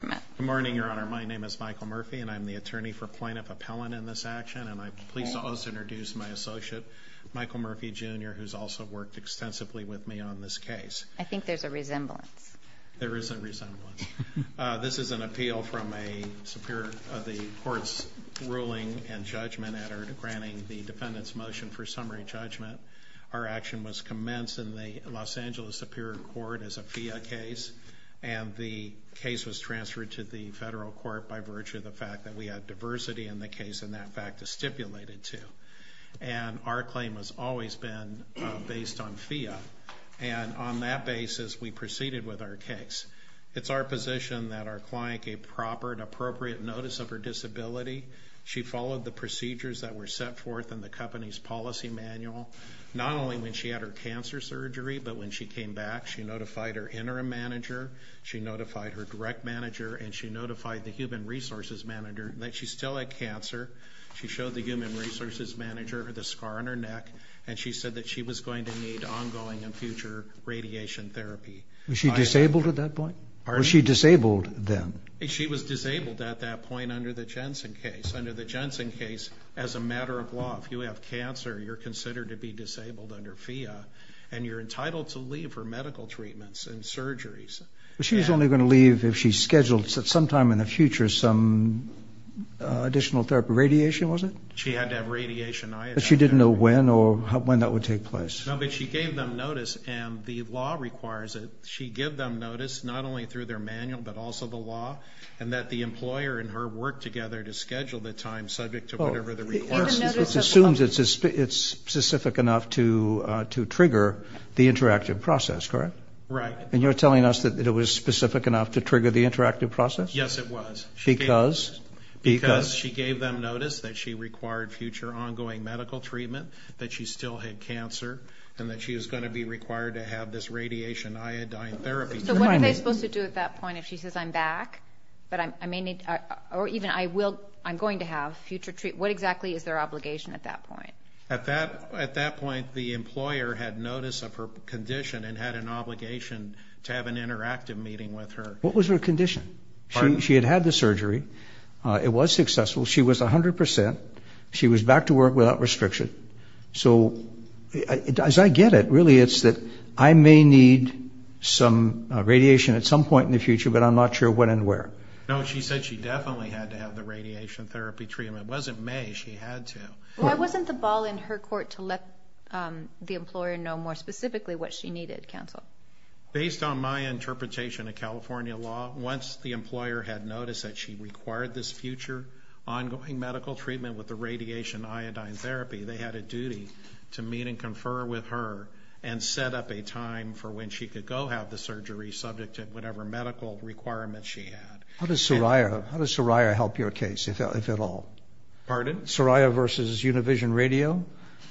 Good morning, Your Honor. My name is Michael Murphy, and I'm the attorney for Plaintiff Appellant in this action, and I'm pleased to also introduce my associate, Michael Murphy, Jr., who's also worked extensively with me on this case. I think there's a resemblance. There is a resemblance. This is an appeal from the Court's ruling and judgment, granting the defendant's motion for summary judgment. Our action was commenced in the Los Angeles Superior Court as a FIA case, and the case was transferred to the federal court by virtue of the fact that we had diversity in the case, and that fact is stipulated, too. And our claim has always been based on FIA, and on that basis, we proceeded with our case. It's our position that our client gave proper and appropriate notice of her disability. She followed the procedures that were set forth in the company's policy manual, not only when she had her cancer surgery, but when she came back, she notified her interim manager, she notified her direct manager, and she notified the human resources manager that she still had cancer. She showed the human resources manager the scar on her neck, and she said that she was going to need ongoing and future radiation therapy. Was she disabled at that point? Was she disabled then? She was disabled at that point under the Jensen case. Under the Jensen case, as a matter of law, if you have cancer, you're considered to be disabled under FIA, and you're entitled to leave for medical treatments and surgeries. But she's only going to leave if she's scheduled sometime in the future some additional therapy. Radiation, was it? She had to have radiation. But she didn't know when or how, when that would take place? No, but she gave them notice, and the law requires that she give them notice, not only through their manual, but also the law, and that the employer and her work together to schedule the time subject to whatever the request is. It assumes it's specific enough to trigger the interactive process, correct? Right. And you're telling us that it was specific enough to trigger the interactive process? Yes, it was. Because? Because she gave them notice that she required future ongoing medical treatment, that she still had cancer, and that she was going to be required to have this radiation iodine therapy. So what are they supposed to do at that point if she says, I'm back, or even I'm going to have future treatment? What exactly is their obligation at that point? At that point, the employer had notice of her condition and had an obligation to have an interactive meeting with her. What was her condition? Pardon? She had had the surgery. It was successful. She was 100%. She was back to work without restriction. So as I get it, really it's that I may need some radiation at some point in the future, but I'm not sure when and where. No, she said she definitely had to have the radiation therapy treatment. It wasn't May. She had to. Why wasn't the ball in her court to let the employer know more specifically what she needed, counsel? Based on my interpretation of California law, once the employer had noticed that she required this future ongoing medical treatment with the radiation iodine therapy, they had a duty to meet and confer with her and set up a time for when she could go have the surgery subject to whatever medical requirements she had. How does Soraya help your case, if at all? Pardon? Soraya versus Univision Radio?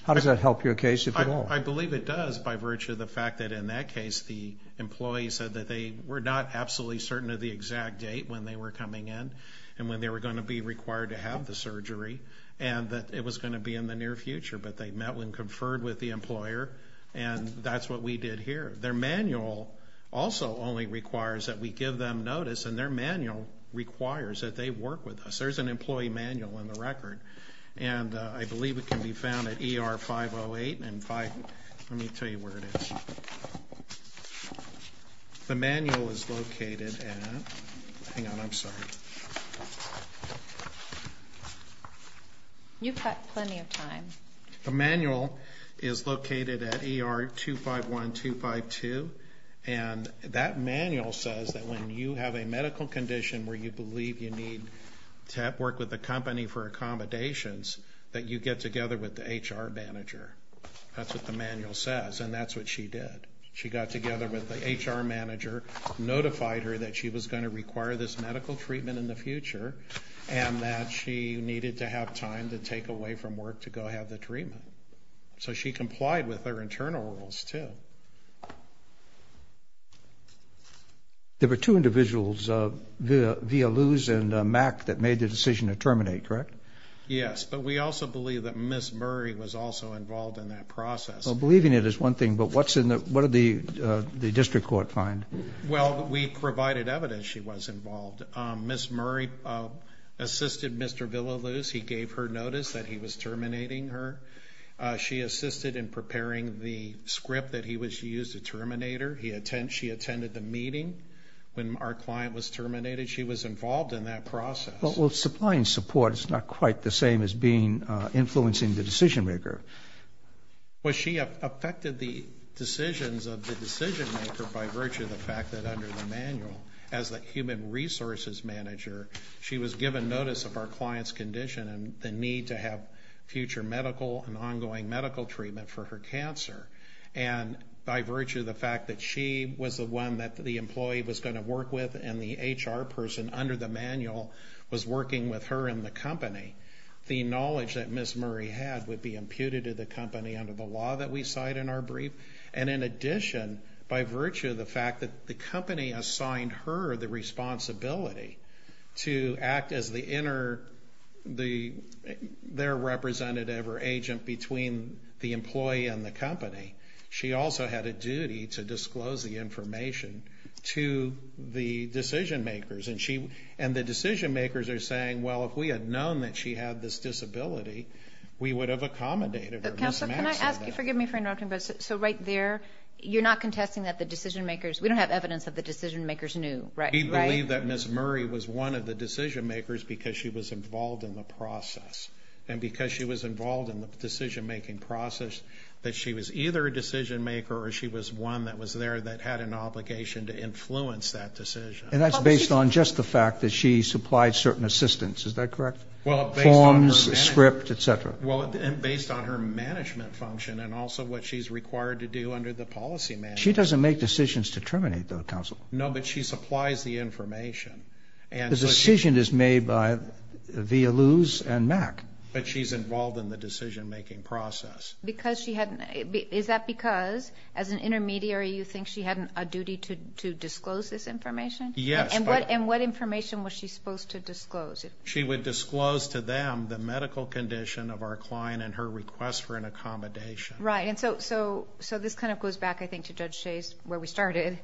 How does that help your case, if at all? I believe it does by virtue of the fact that in that case the employee said that they were not absolutely certain of the exact date when they were coming in and when they were going to be required to have the surgery and that it was going to be in the near future, but they met and conferred with the employer, and that's what we did here. Their manual also only requires that we give them notice, and their manual requires that they work with us. There's an employee manual in the record, and I believe it can be found at ER 508 and 5- let me tell you where it is. The manual is located at- hang on, I'm sorry. You've got plenty of time. The manual is located at ER 251-252, and that manual says that when you have a medical condition where you believe you need to work with the company for accommodations, that you get together with the HR manager. That's what the manual says, and that's what she did. She got together with the HR manager, notified her that she was going to require this medical treatment in the future, and that she needed to have time to take away from work to go have the treatment. So she complied with her internal rules, too. There were two individuals, Villaluz and Mack, that made the decision to terminate, correct? Yes, but we also believe that Ms. Murray was also involved in that process. Well, believing it is one thing, but what did the district court find? Well, we provided evidence she was involved. Ms. Murray assisted Mr. Villaluz. He gave her notice that he was terminating her. She assisted in preparing the script that he was to use to terminate her. She attended the meeting when our client was terminated. She was involved in that process. Well, supplying support is not quite the same as influencing the decision maker. Well, she affected the decisions of the decision maker by virtue of the fact that under the manual, as the human resources manager, she was given notice of our client's condition and the need to have future medical and ongoing medical treatment for her cancer. And by virtue of the fact that she was the one that the employee was going to work with and the HR person under the manual was working with her and the company, the knowledge that Ms. Murray had would be imputed to the company under the law that we cite in our brief. And in addition, by virtue of the fact that the company assigned her the responsibility to act as their representative or agent between the employee and the company, she also had a duty to disclose the information to the decision makers. And the decision makers are saying, well, if we had known that she had this disability, we would have accommodated her. Counsel, can I ask you, forgive me for interrupting, but so right there, you're not contesting that the decision makers, we don't have evidence that the decision makers knew, right? We believe that Ms. Murray was one of the decision makers because she was involved in the process. And because she was involved in the decision making process, that she was either a decision maker or she was one that was there that had an obligation to influence that decision. And that's based on just the fact that she supplied certain assistance, is that correct? Well, based on her management. Forms, script, et cetera. Well, and based on her management function and also what she's required to do under the policy manual. She doesn't make decisions to terminate, though, counsel. No, but she supplies the information. The decision is made via Luz and Mac. But she's involved in the decision making process. Is that because, as an intermediary, you think she had a duty to disclose this information? Yes. And what information was she supposed to disclose? She would disclose to them the medical condition of our client and her request for an accommodation. Right, and so this kind of goes back, I think, to Judge Shays, where we started.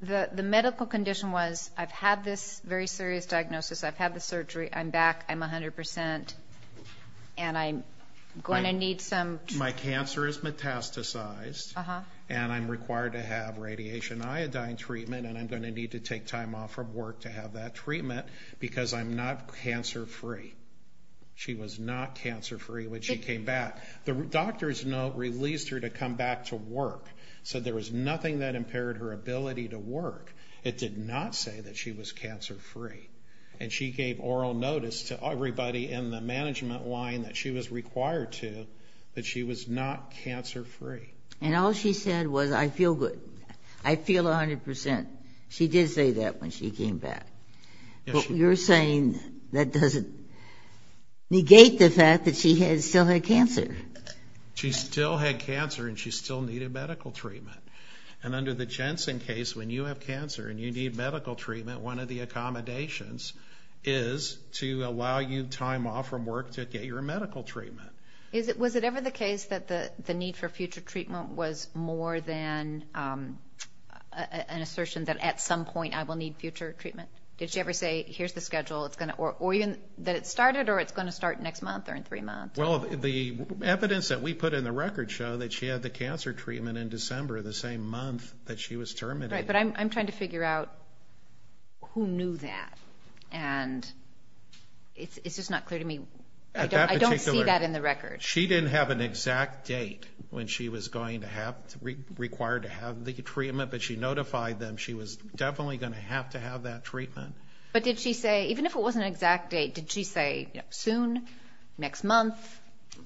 The medical condition was I've had this very serious diagnosis, I've had the surgery, I'm back, I'm 100%, and I'm going to need some treatment. My cancer is metastasized, and I'm required to have radiation iodine treatment, and I'm going to need to take time off from work to have that treatment because I'm not cancer-free. She was not cancer-free when she came back. The doctor's note released her to come back to work, so there was nothing that impaired her ability to work. It did not say that she was cancer-free. And she gave oral notice to everybody in the management line that she was required to that she was not cancer-free. And all she said was, I feel good. I feel 100%. She did say that when she came back. But you're saying that doesn't negate the fact that she still had cancer. She still had cancer, and she still needed medical treatment. And under the Jensen case, when you have cancer and you need medical treatment, one of the accommodations is to allow you time off from work to get your medical treatment. Was it ever the case that the need for future treatment was more than an assertion that at some point I will need future treatment? Did she ever say, here's the schedule, or even that it started, or it's going to start next month or in three months? Well, the evidence that we put in the record show that she had the cancer treatment in December, the same month that she was terminated. Right, but I'm trying to figure out who knew that. And it's just not clear to me. I don't see that in the record. She didn't have an exact date when she was going to have to be required to have the treatment, but she notified them. She was definitely going to have to have that treatment. But did she say, even if it wasn't an exact date, did she say soon, next month,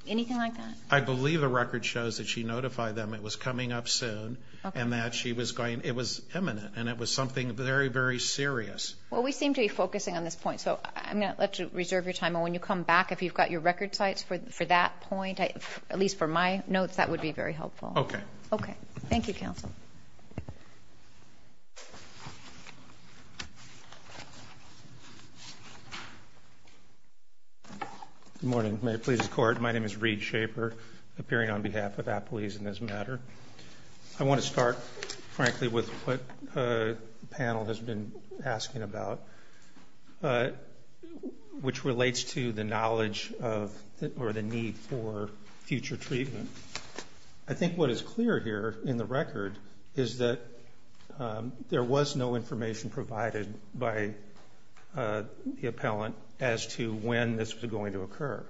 anything like that? I believe the record shows that she notified them it was coming up soon and that she was going, it was imminent, and it was something very, very serious. Well, we seem to be focusing on this point, so I'm going to let you reserve your time. And when you come back, if you've got your record sites for that point, at least for my notes, that would be very helpful. Okay. Okay. Thank you, counsel. Good morning. May it please the Court. My name is Reed Schaefer, appearing on behalf of Appaloose in this matter. I want to start, frankly, with what the panel has been asking about, which relates to the knowledge or the need for future treatment. I think what is clear here in the record is that there was no information provided by the appellant as to when this was going to occur.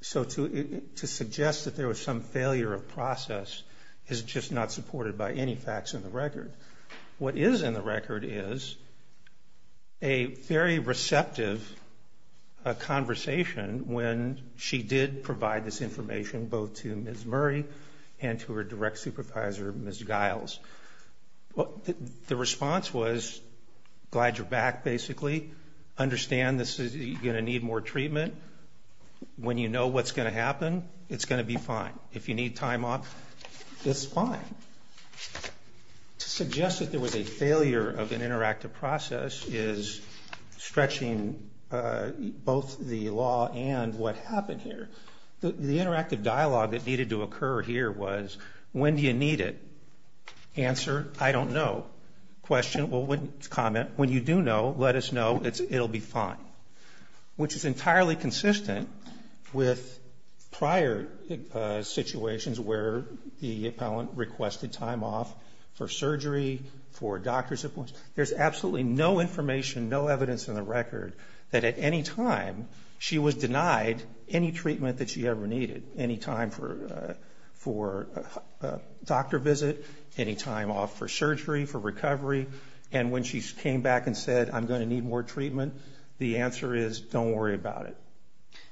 So to suggest that there was some failure of process is just not supported by any facts in the record. What is in the record is a very receptive conversation when she did provide this information both to Ms. Murray and to her direct supervisor, Ms. Giles. The response was, glad you're back, basically. Understand this is, you're going to need more treatment. When you know what's going to happen, it's going to be fine. If you need time off, it's fine. To suggest that there was a failure of an interactive process is stretching both the law and what happened here. The interactive dialogue that needed to occur here was, when do you need it? Answer, I don't know. Question, well, comment. When you do know, let us know. It will be fine. Which is entirely consistent with prior situations where the appellant requested time off for surgery, for doctor's appointments. There's absolutely no information, no evidence in the record that at any time she was denied any treatment that she ever needed. Any time for a doctor visit, any time off for surgery, for recovery. And when she came back and said, I'm going to need more treatment, the answer is, don't worry about it.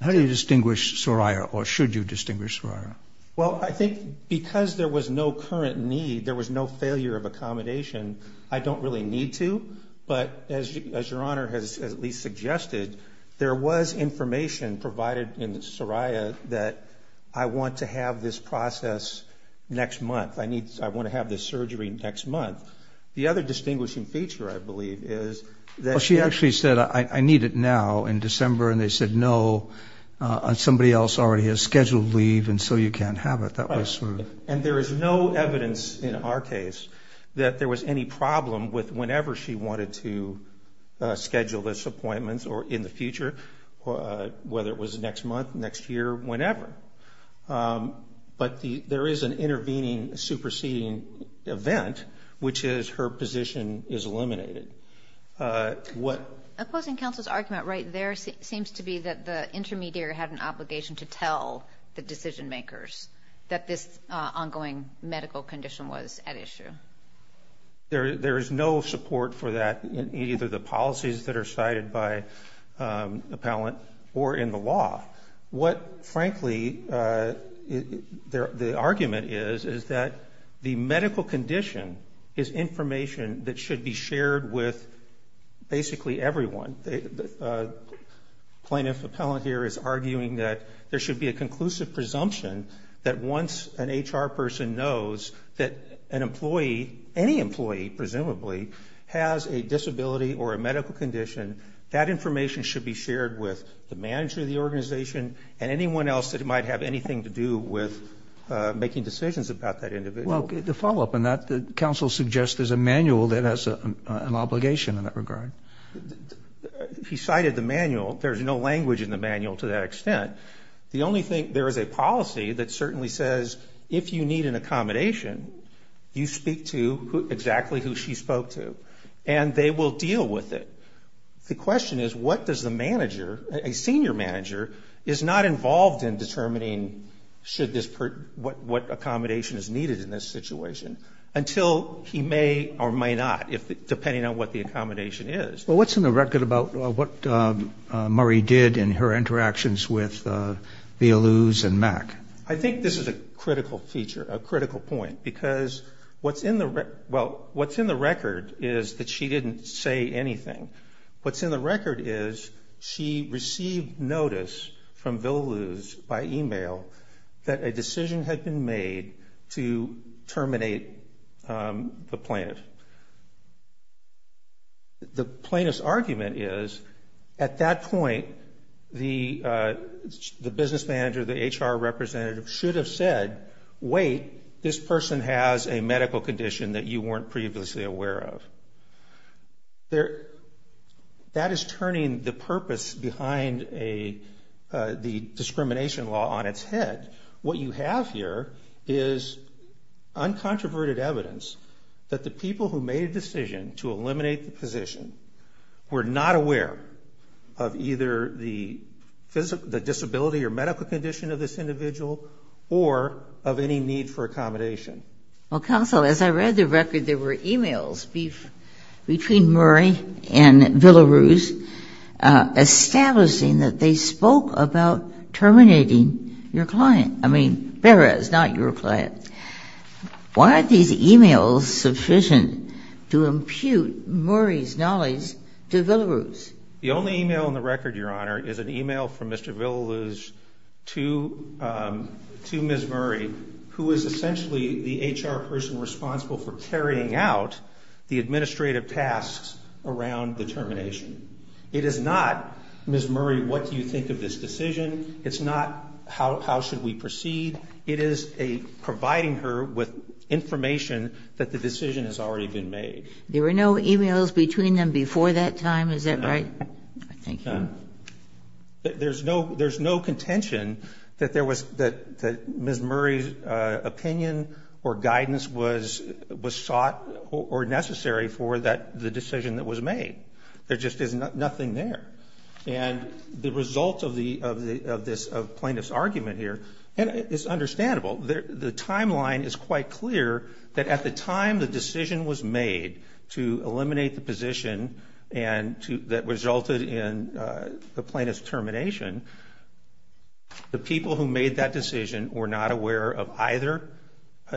How do you distinguish Soraya or should you distinguish Soraya? Well, I think because there was no current need, there was no failure of accommodation, I don't really need to. But as your Honor has at least suggested, there was information provided in Soraya that I want to have this process next month. I want to have this surgery next month. The other distinguishing feature, I believe, is that she actually said, I need it now in December. And they said, no, somebody else already has scheduled leave and so you can't have it. And there is no evidence in our case that there was any problem with whenever she wanted to schedule this appointment or in the future, whether it was next month, next year, whenever. But there is an intervening, superseding event, which is her position is eliminated. Opposing counsel's argument right there seems to be that the intermediary had an obligation to tell the decision makers that this ongoing medical condition was at issue. There is no support for that in either the policies that are cited by appellant or in the law. What, frankly, the argument is, is that the medical condition is information that should be shared with basically everyone. The plaintiff appellant here is arguing that there should be a conclusive presumption that once an HR person knows that an employee, any employee, presumably, has a disability or a medical condition, that information should be shared with the manager of the organization and anyone else that might have anything to do with making decisions about that individual. Well, the follow-up on that, the counsel suggests there's a manual that has an obligation in that regard. He cited the manual. There's no language in the manual to that extent. The only thing, there is a policy that certainly says if you need an accommodation, you speak to exactly who she spoke to, and they will deal with it. The question is what does the manager, a senior manager, is not involved in determining should this, what accommodation is needed in this situation, until he may or may not, depending on what the accommodation is. Well, what's in the record about what Murray did in her interactions with Villaloo's and Mack? I think this is a critical feature, a critical point, because what's in the, well, what's in the record is that she didn't say anything. What's in the record is she received notice from Villaloo's by e-mail that a decision had been made to terminate the plaintiff. The plaintiff's argument is at that point, the business manager, the HR representative should have said, wait, this person has a medical condition that you weren't previously aware of. That is turning the purpose behind the discrimination law on its head. What you have here is uncontroverted evidence that the people who made a decision to eliminate the position were not aware of either the disability or medical condition of this individual or of any need for accommodation. Well, counsel, as I read the record, there were e-mails between Murray and Villaloo's establishing that they spoke about terminating your client. I mean, Perez, not your client. Why are these e-mails sufficient to impute Murray's knowledge to Villaloo's? The only e-mail in the record, Your Honor, is an e-mail from Mr. Villaloo's to Ms. Murray, who is essentially the HR person responsible for carrying out the administrative tasks around the termination. It is not, Ms. Murray, what do you think of this decision? It's not how should we proceed. It is a providing her with information that the decision has already been made. There were no e-mails between them before that time, is that right? No. Thank you. No. There's no contention that there was, that Ms. Murray's opinion or guidance was sought or necessary for the decision that was made. There just is nothing there. And the result of this plaintiff's argument here is understandable. The timeline is quite clear that at the time the decision was made to eliminate the position that resulted in the plaintiff's termination, the people who made that decision were not aware of either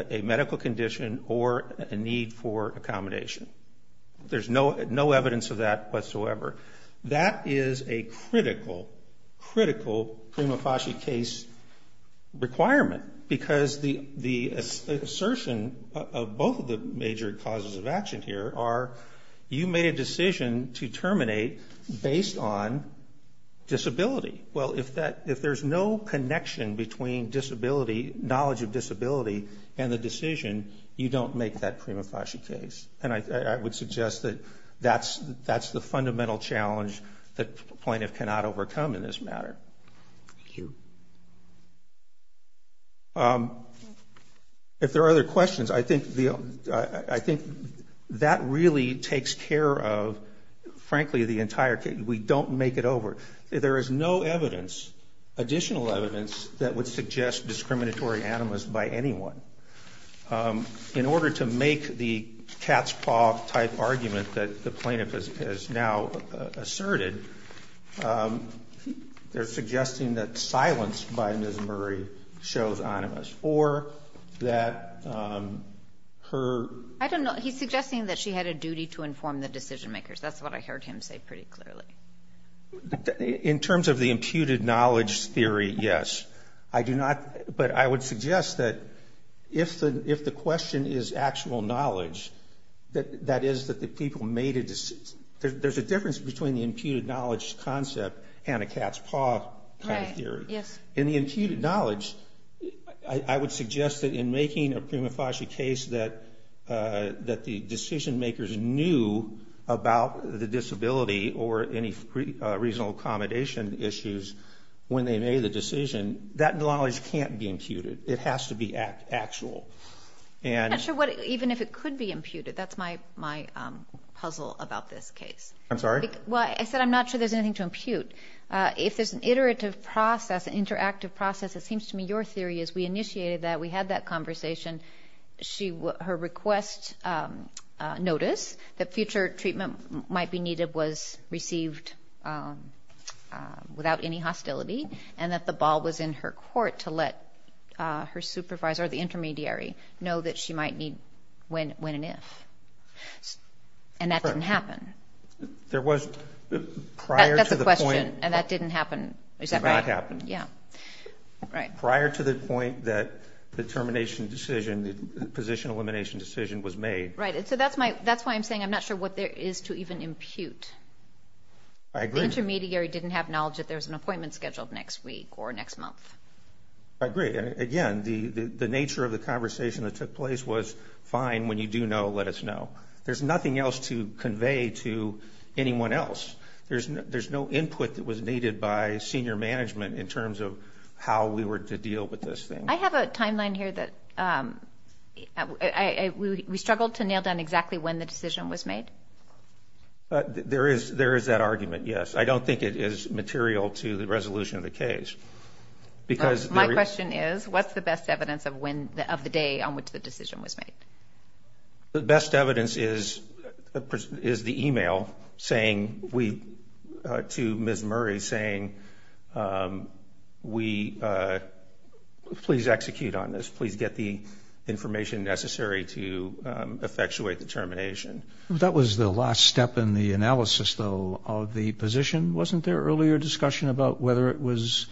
a medical condition or a need for accommodation. There's no evidence of that whatsoever. That is a critical, critical prima facie case requirement, because the assertion of both of the major causes of action here are you made a decision to terminate based on disability. Well, if there's no connection between disability, knowledge of disability, and the decision, you don't make that prima facie case. And I would suggest that that's the fundamental challenge that a plaintiff cannot overcome in this matter. Thank you. If there are other questions, I think that really takes care of, frankly, the entire case. We don't make it over. There is no evidence, additional evidence, that would suggest discriminatory animus by anyone. In order to make the cat's paw type argument that the plaintiff has now asserted, they're suggesting that silence by Ms. Murray shows animus, or that her... I don't know. He's suggesting that she had a duty to inform the decision makers. That's what I heard him say pretty clearly. In terms of the imputed knowledge theory, yes. But I would suggest that if the question is actual knowledge, that is that the people made a decision... There's a difference between the imputed knowledge concept and a cat's paw kind of theory. In the imputed knowledge, I would suggest that in making a prima facie case that the decision makers knew about the disability or any reasonable accommodation issues when they made the decision, that knowledge can't be imputed. It has to be actual. I'm not sure even if it could be imputed. That's my puzzle about this case. I'm sorry? Well, I said I'm not sure there's anything to impute. If there's an iterative process, an interactive process, it seems to me your theory is we initiated that. We had that conversation. Her request notice that future treatment might be needed was received without any hostility and that the ball was in her court to let her supervisor or the intermediary know that she might need when and if. And that didn't happen. There was prior to the point... That's the question. And that didn't happen. It did not happen. Yeah. Right. Prior to the point that the termination decision, the position elimination decision was made. Right. So that's why I'm saying I'm not sure what there is to even impute. I agree. The intermediary didn't have knowledge that there was an appointment scheduled next week or next month. I agree. Again, the nature of the conversation that took place was fine, when you do know, let us know. There's nothing else to convey to anyone else. There's no input that was needed by senior management in terms of how we were to deal with this thing. I have a timeline here that we struggled to nail down exactly when the decision was made. There is that argument, yes. I don't think it is material to the resolution of the case. My question is, what's the best evidence of the day on which the decision was made? The best evidence is the e-mail to Ms. Murray saying, please execute on this. Please get the information necessary to effectuate the termination. That was the last step in the analysis, though, of the position. Wasn't there earlier discussion about whether it was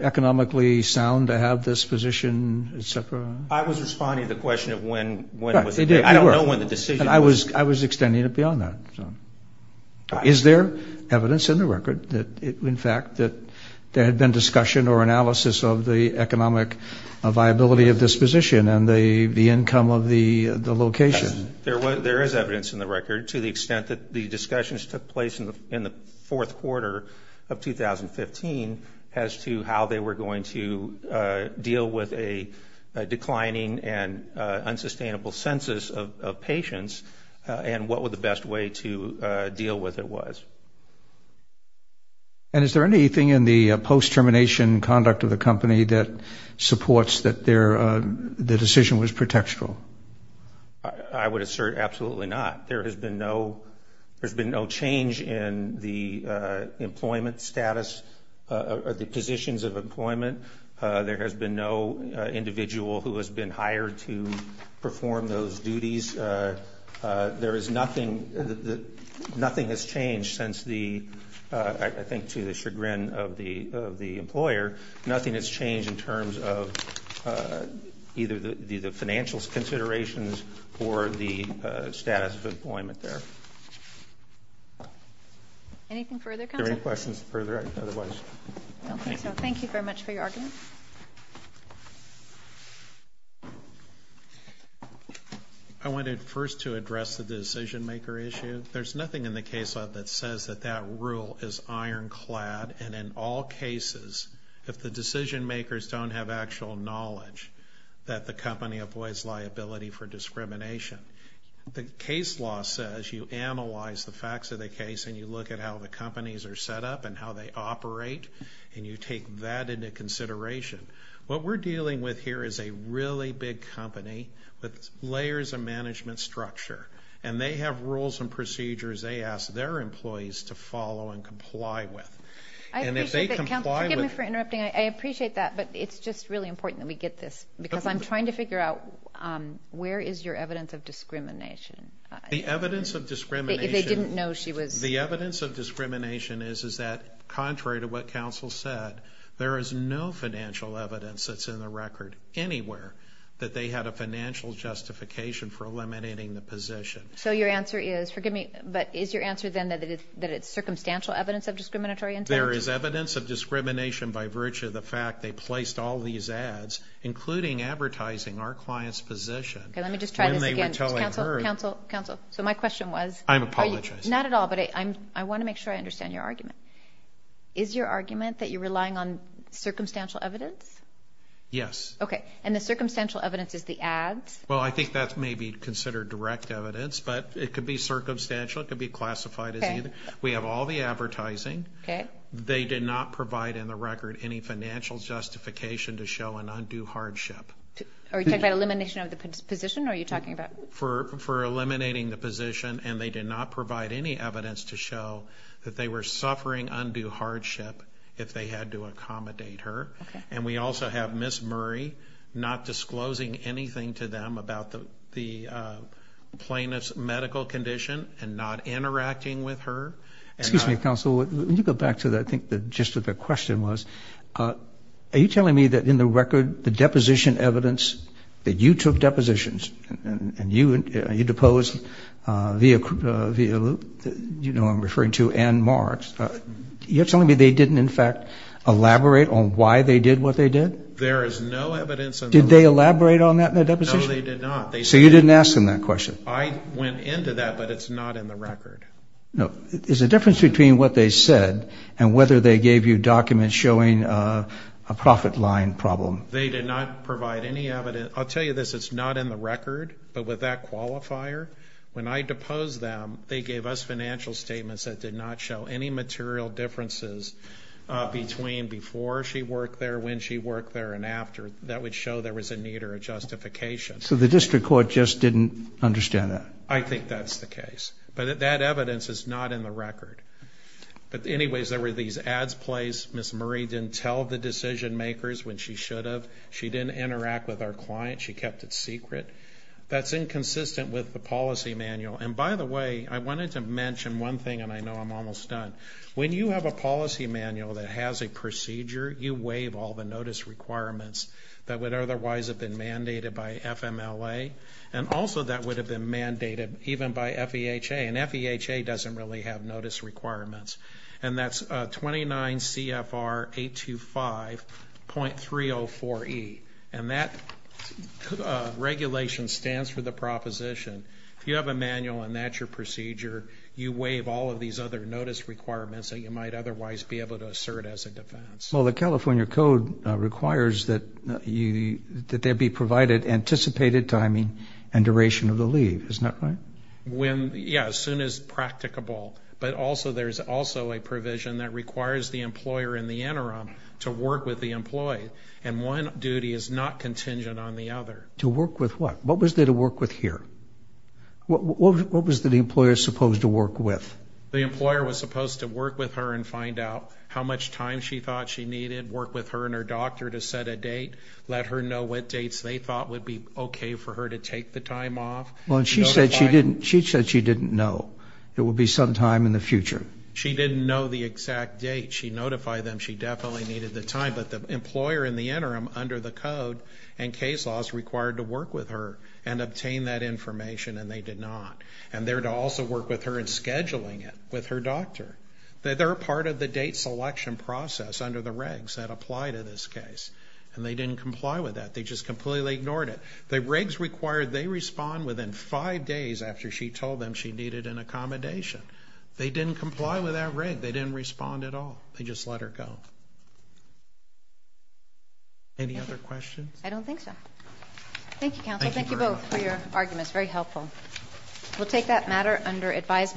economically sound to have this position, et cetera? I was responding to the question of when it was. I don't know when the decision was. I was extending it beyond that. Is there evidence in the record, in fact, that there had been discussion or analysis of the economic viability of this position and the income of the location? There is evidence in the record to the extent that the discussions took place in the fourth quarter of 2015 as to how they were going to deal with a declining and unsustainable census of patients and what the best way to deal with it was. And is there anything in the post-termination conduct of the company that supports that the decision was pretextual? I would assert absolutely not. There has been no change in the employment status or the positions of employment. There has been no individual who has been hired to perform those duties. Nothing has changed since the, I think to the chagrin of the employer, nothing has changed in terms of either the financial considerations or the status of employment there. Anything further, counsel? Are there any questions further otherwise? I don't think so. Thank you very much for your argument. I wanted first to address the decision-maker issue. There's nothing in the case law that says that that rule is ironclad, and in all cases, if the decision-makers don't have actual knowledge, that the company avoids liability for discrimination. The case law says you analyze the facts of the case and you look at how the companies are set up and how they operate, and you take that into consideration. What we're dealing with here is a really big company with layers of management structure, and they have rules and procedures they ask their employees to follow and comply with. I appreciate that, counsel. Forgive me for interrupting. I appreciate that, but it's just really important that we get this, because I'm trying to figure out where is your evidence of discrimination? The evidence of discrimination is that, contrary to what counsel said, there is no financial evidence that's in the record anywhere that they had a financial justification for eliminating the position. So your answer is, forgive me, but is your answer then that it's circumstantial evidence of discriminatory intent? There is evidence of discrimination by virtue of the fact they placed all these ads, including advertising our client's position. Okay, let me just try this again. Then they were telling her. Counsel, counsel, counsel, so my question was? I'm apologizing. Not at all, but I want to make sure I understand your argument. Is your argument that you're relying on circumstantial evidence? Yes. Okay, and the circumstantial evidence is the ads? Well, I think that's maybe considered direct evidence, but it could be circumstantial. It could be classified as either. We have all the advertising. They did not provide in the record any financial justification to show an undue hardship. Are you talking about elimination of the position, or are you talking about? For eliminating the position, and they did not provide any evidence to show that they were suffering undue hardship if they had to accommodate her. Okay. And we also have Ms. Murray not disclosing anything to them about the plaintiff's medical condition and not interacting with her. Excuse me, counsel. When you go back to that, I think the gist of the question was, are you telling me that in the record the deposition evidence that you took depositions, and you deposed, you know, I'm referring to Ann Marks. You're telling me they didn't, in fact, elaborate on why they did what they did? There is no evidence. Did they elaborate on that in the deposition? No, they did not. So you didn't ask them that question? I went into that, but it's not in the record. No. There's a difference between what they said and whether they gave you documents showing a profit line problem. They did not provide any evidence. I'll tell you this, it's not in the record, but with that qualifier, when I deposed them, they gave us financial statements that did not show any material differences between before she worked there, when she worked there, and after. That would show there was a need or a justification. So the district court just didn't understand that? I think that's the case. But that evidence is not in the record. But anyways, there were these ads placed. Ms. Murray didn't tell the decision makers when she should have. She didn't interact with our client. She kept it secret. That's inconsistent with the policy manual. And, by the way, I wanted to mention one thing, and I know I'm almost done. When you have a policy manual that has a procedure, you waive all the notice requirements that would otherwise have been mandated by FMLA, and also that would have been mandated even by FEHA. And FEHA doesn't really have notice requirements. And that's 29 CFR 825.304E. And that regulation stands for the proposition. If you have a manual and that's your procedure, you waive all of these other notice requirements that you might otherwise be able to assert as a defense. Well, the California Code requires that there be provided anticipated timing and duration of the leave. Isn't that right? Yeah, as soon as practicable. But also there's also a provision that requires the employer in the interim to work with the employee. And one duty is not contingent on the other. To work with what? What was there to work with here? What was the employer supposed to work with? The employer was supposed to work with her and find out how much time she thought she needed, work with her and her doctor to set a date, let her know what dates they thought would be okay for her to take the time off. Well, and she said she didn't know it would be some time in the future. She didn't know the exact date. She notified them she definitely needed the time. But the employer in the interim under the code and case law is required to work with her and obtain that information, and they did not. And they're to also work with her in scheduling it with her doctor. They're a part of the date selection process under the regs that apply to this case. And they didn't comply with that. They just completely ignored it. The regs required they respond within five days after she told them she needed an accommodation. They didn't comply with that reg. They didn't respond at all. They just let her go. Any other questions? I don't think so. Thank you, counsel. Thank you both for your arguments. Very helpful. We'll take that matter under advisement.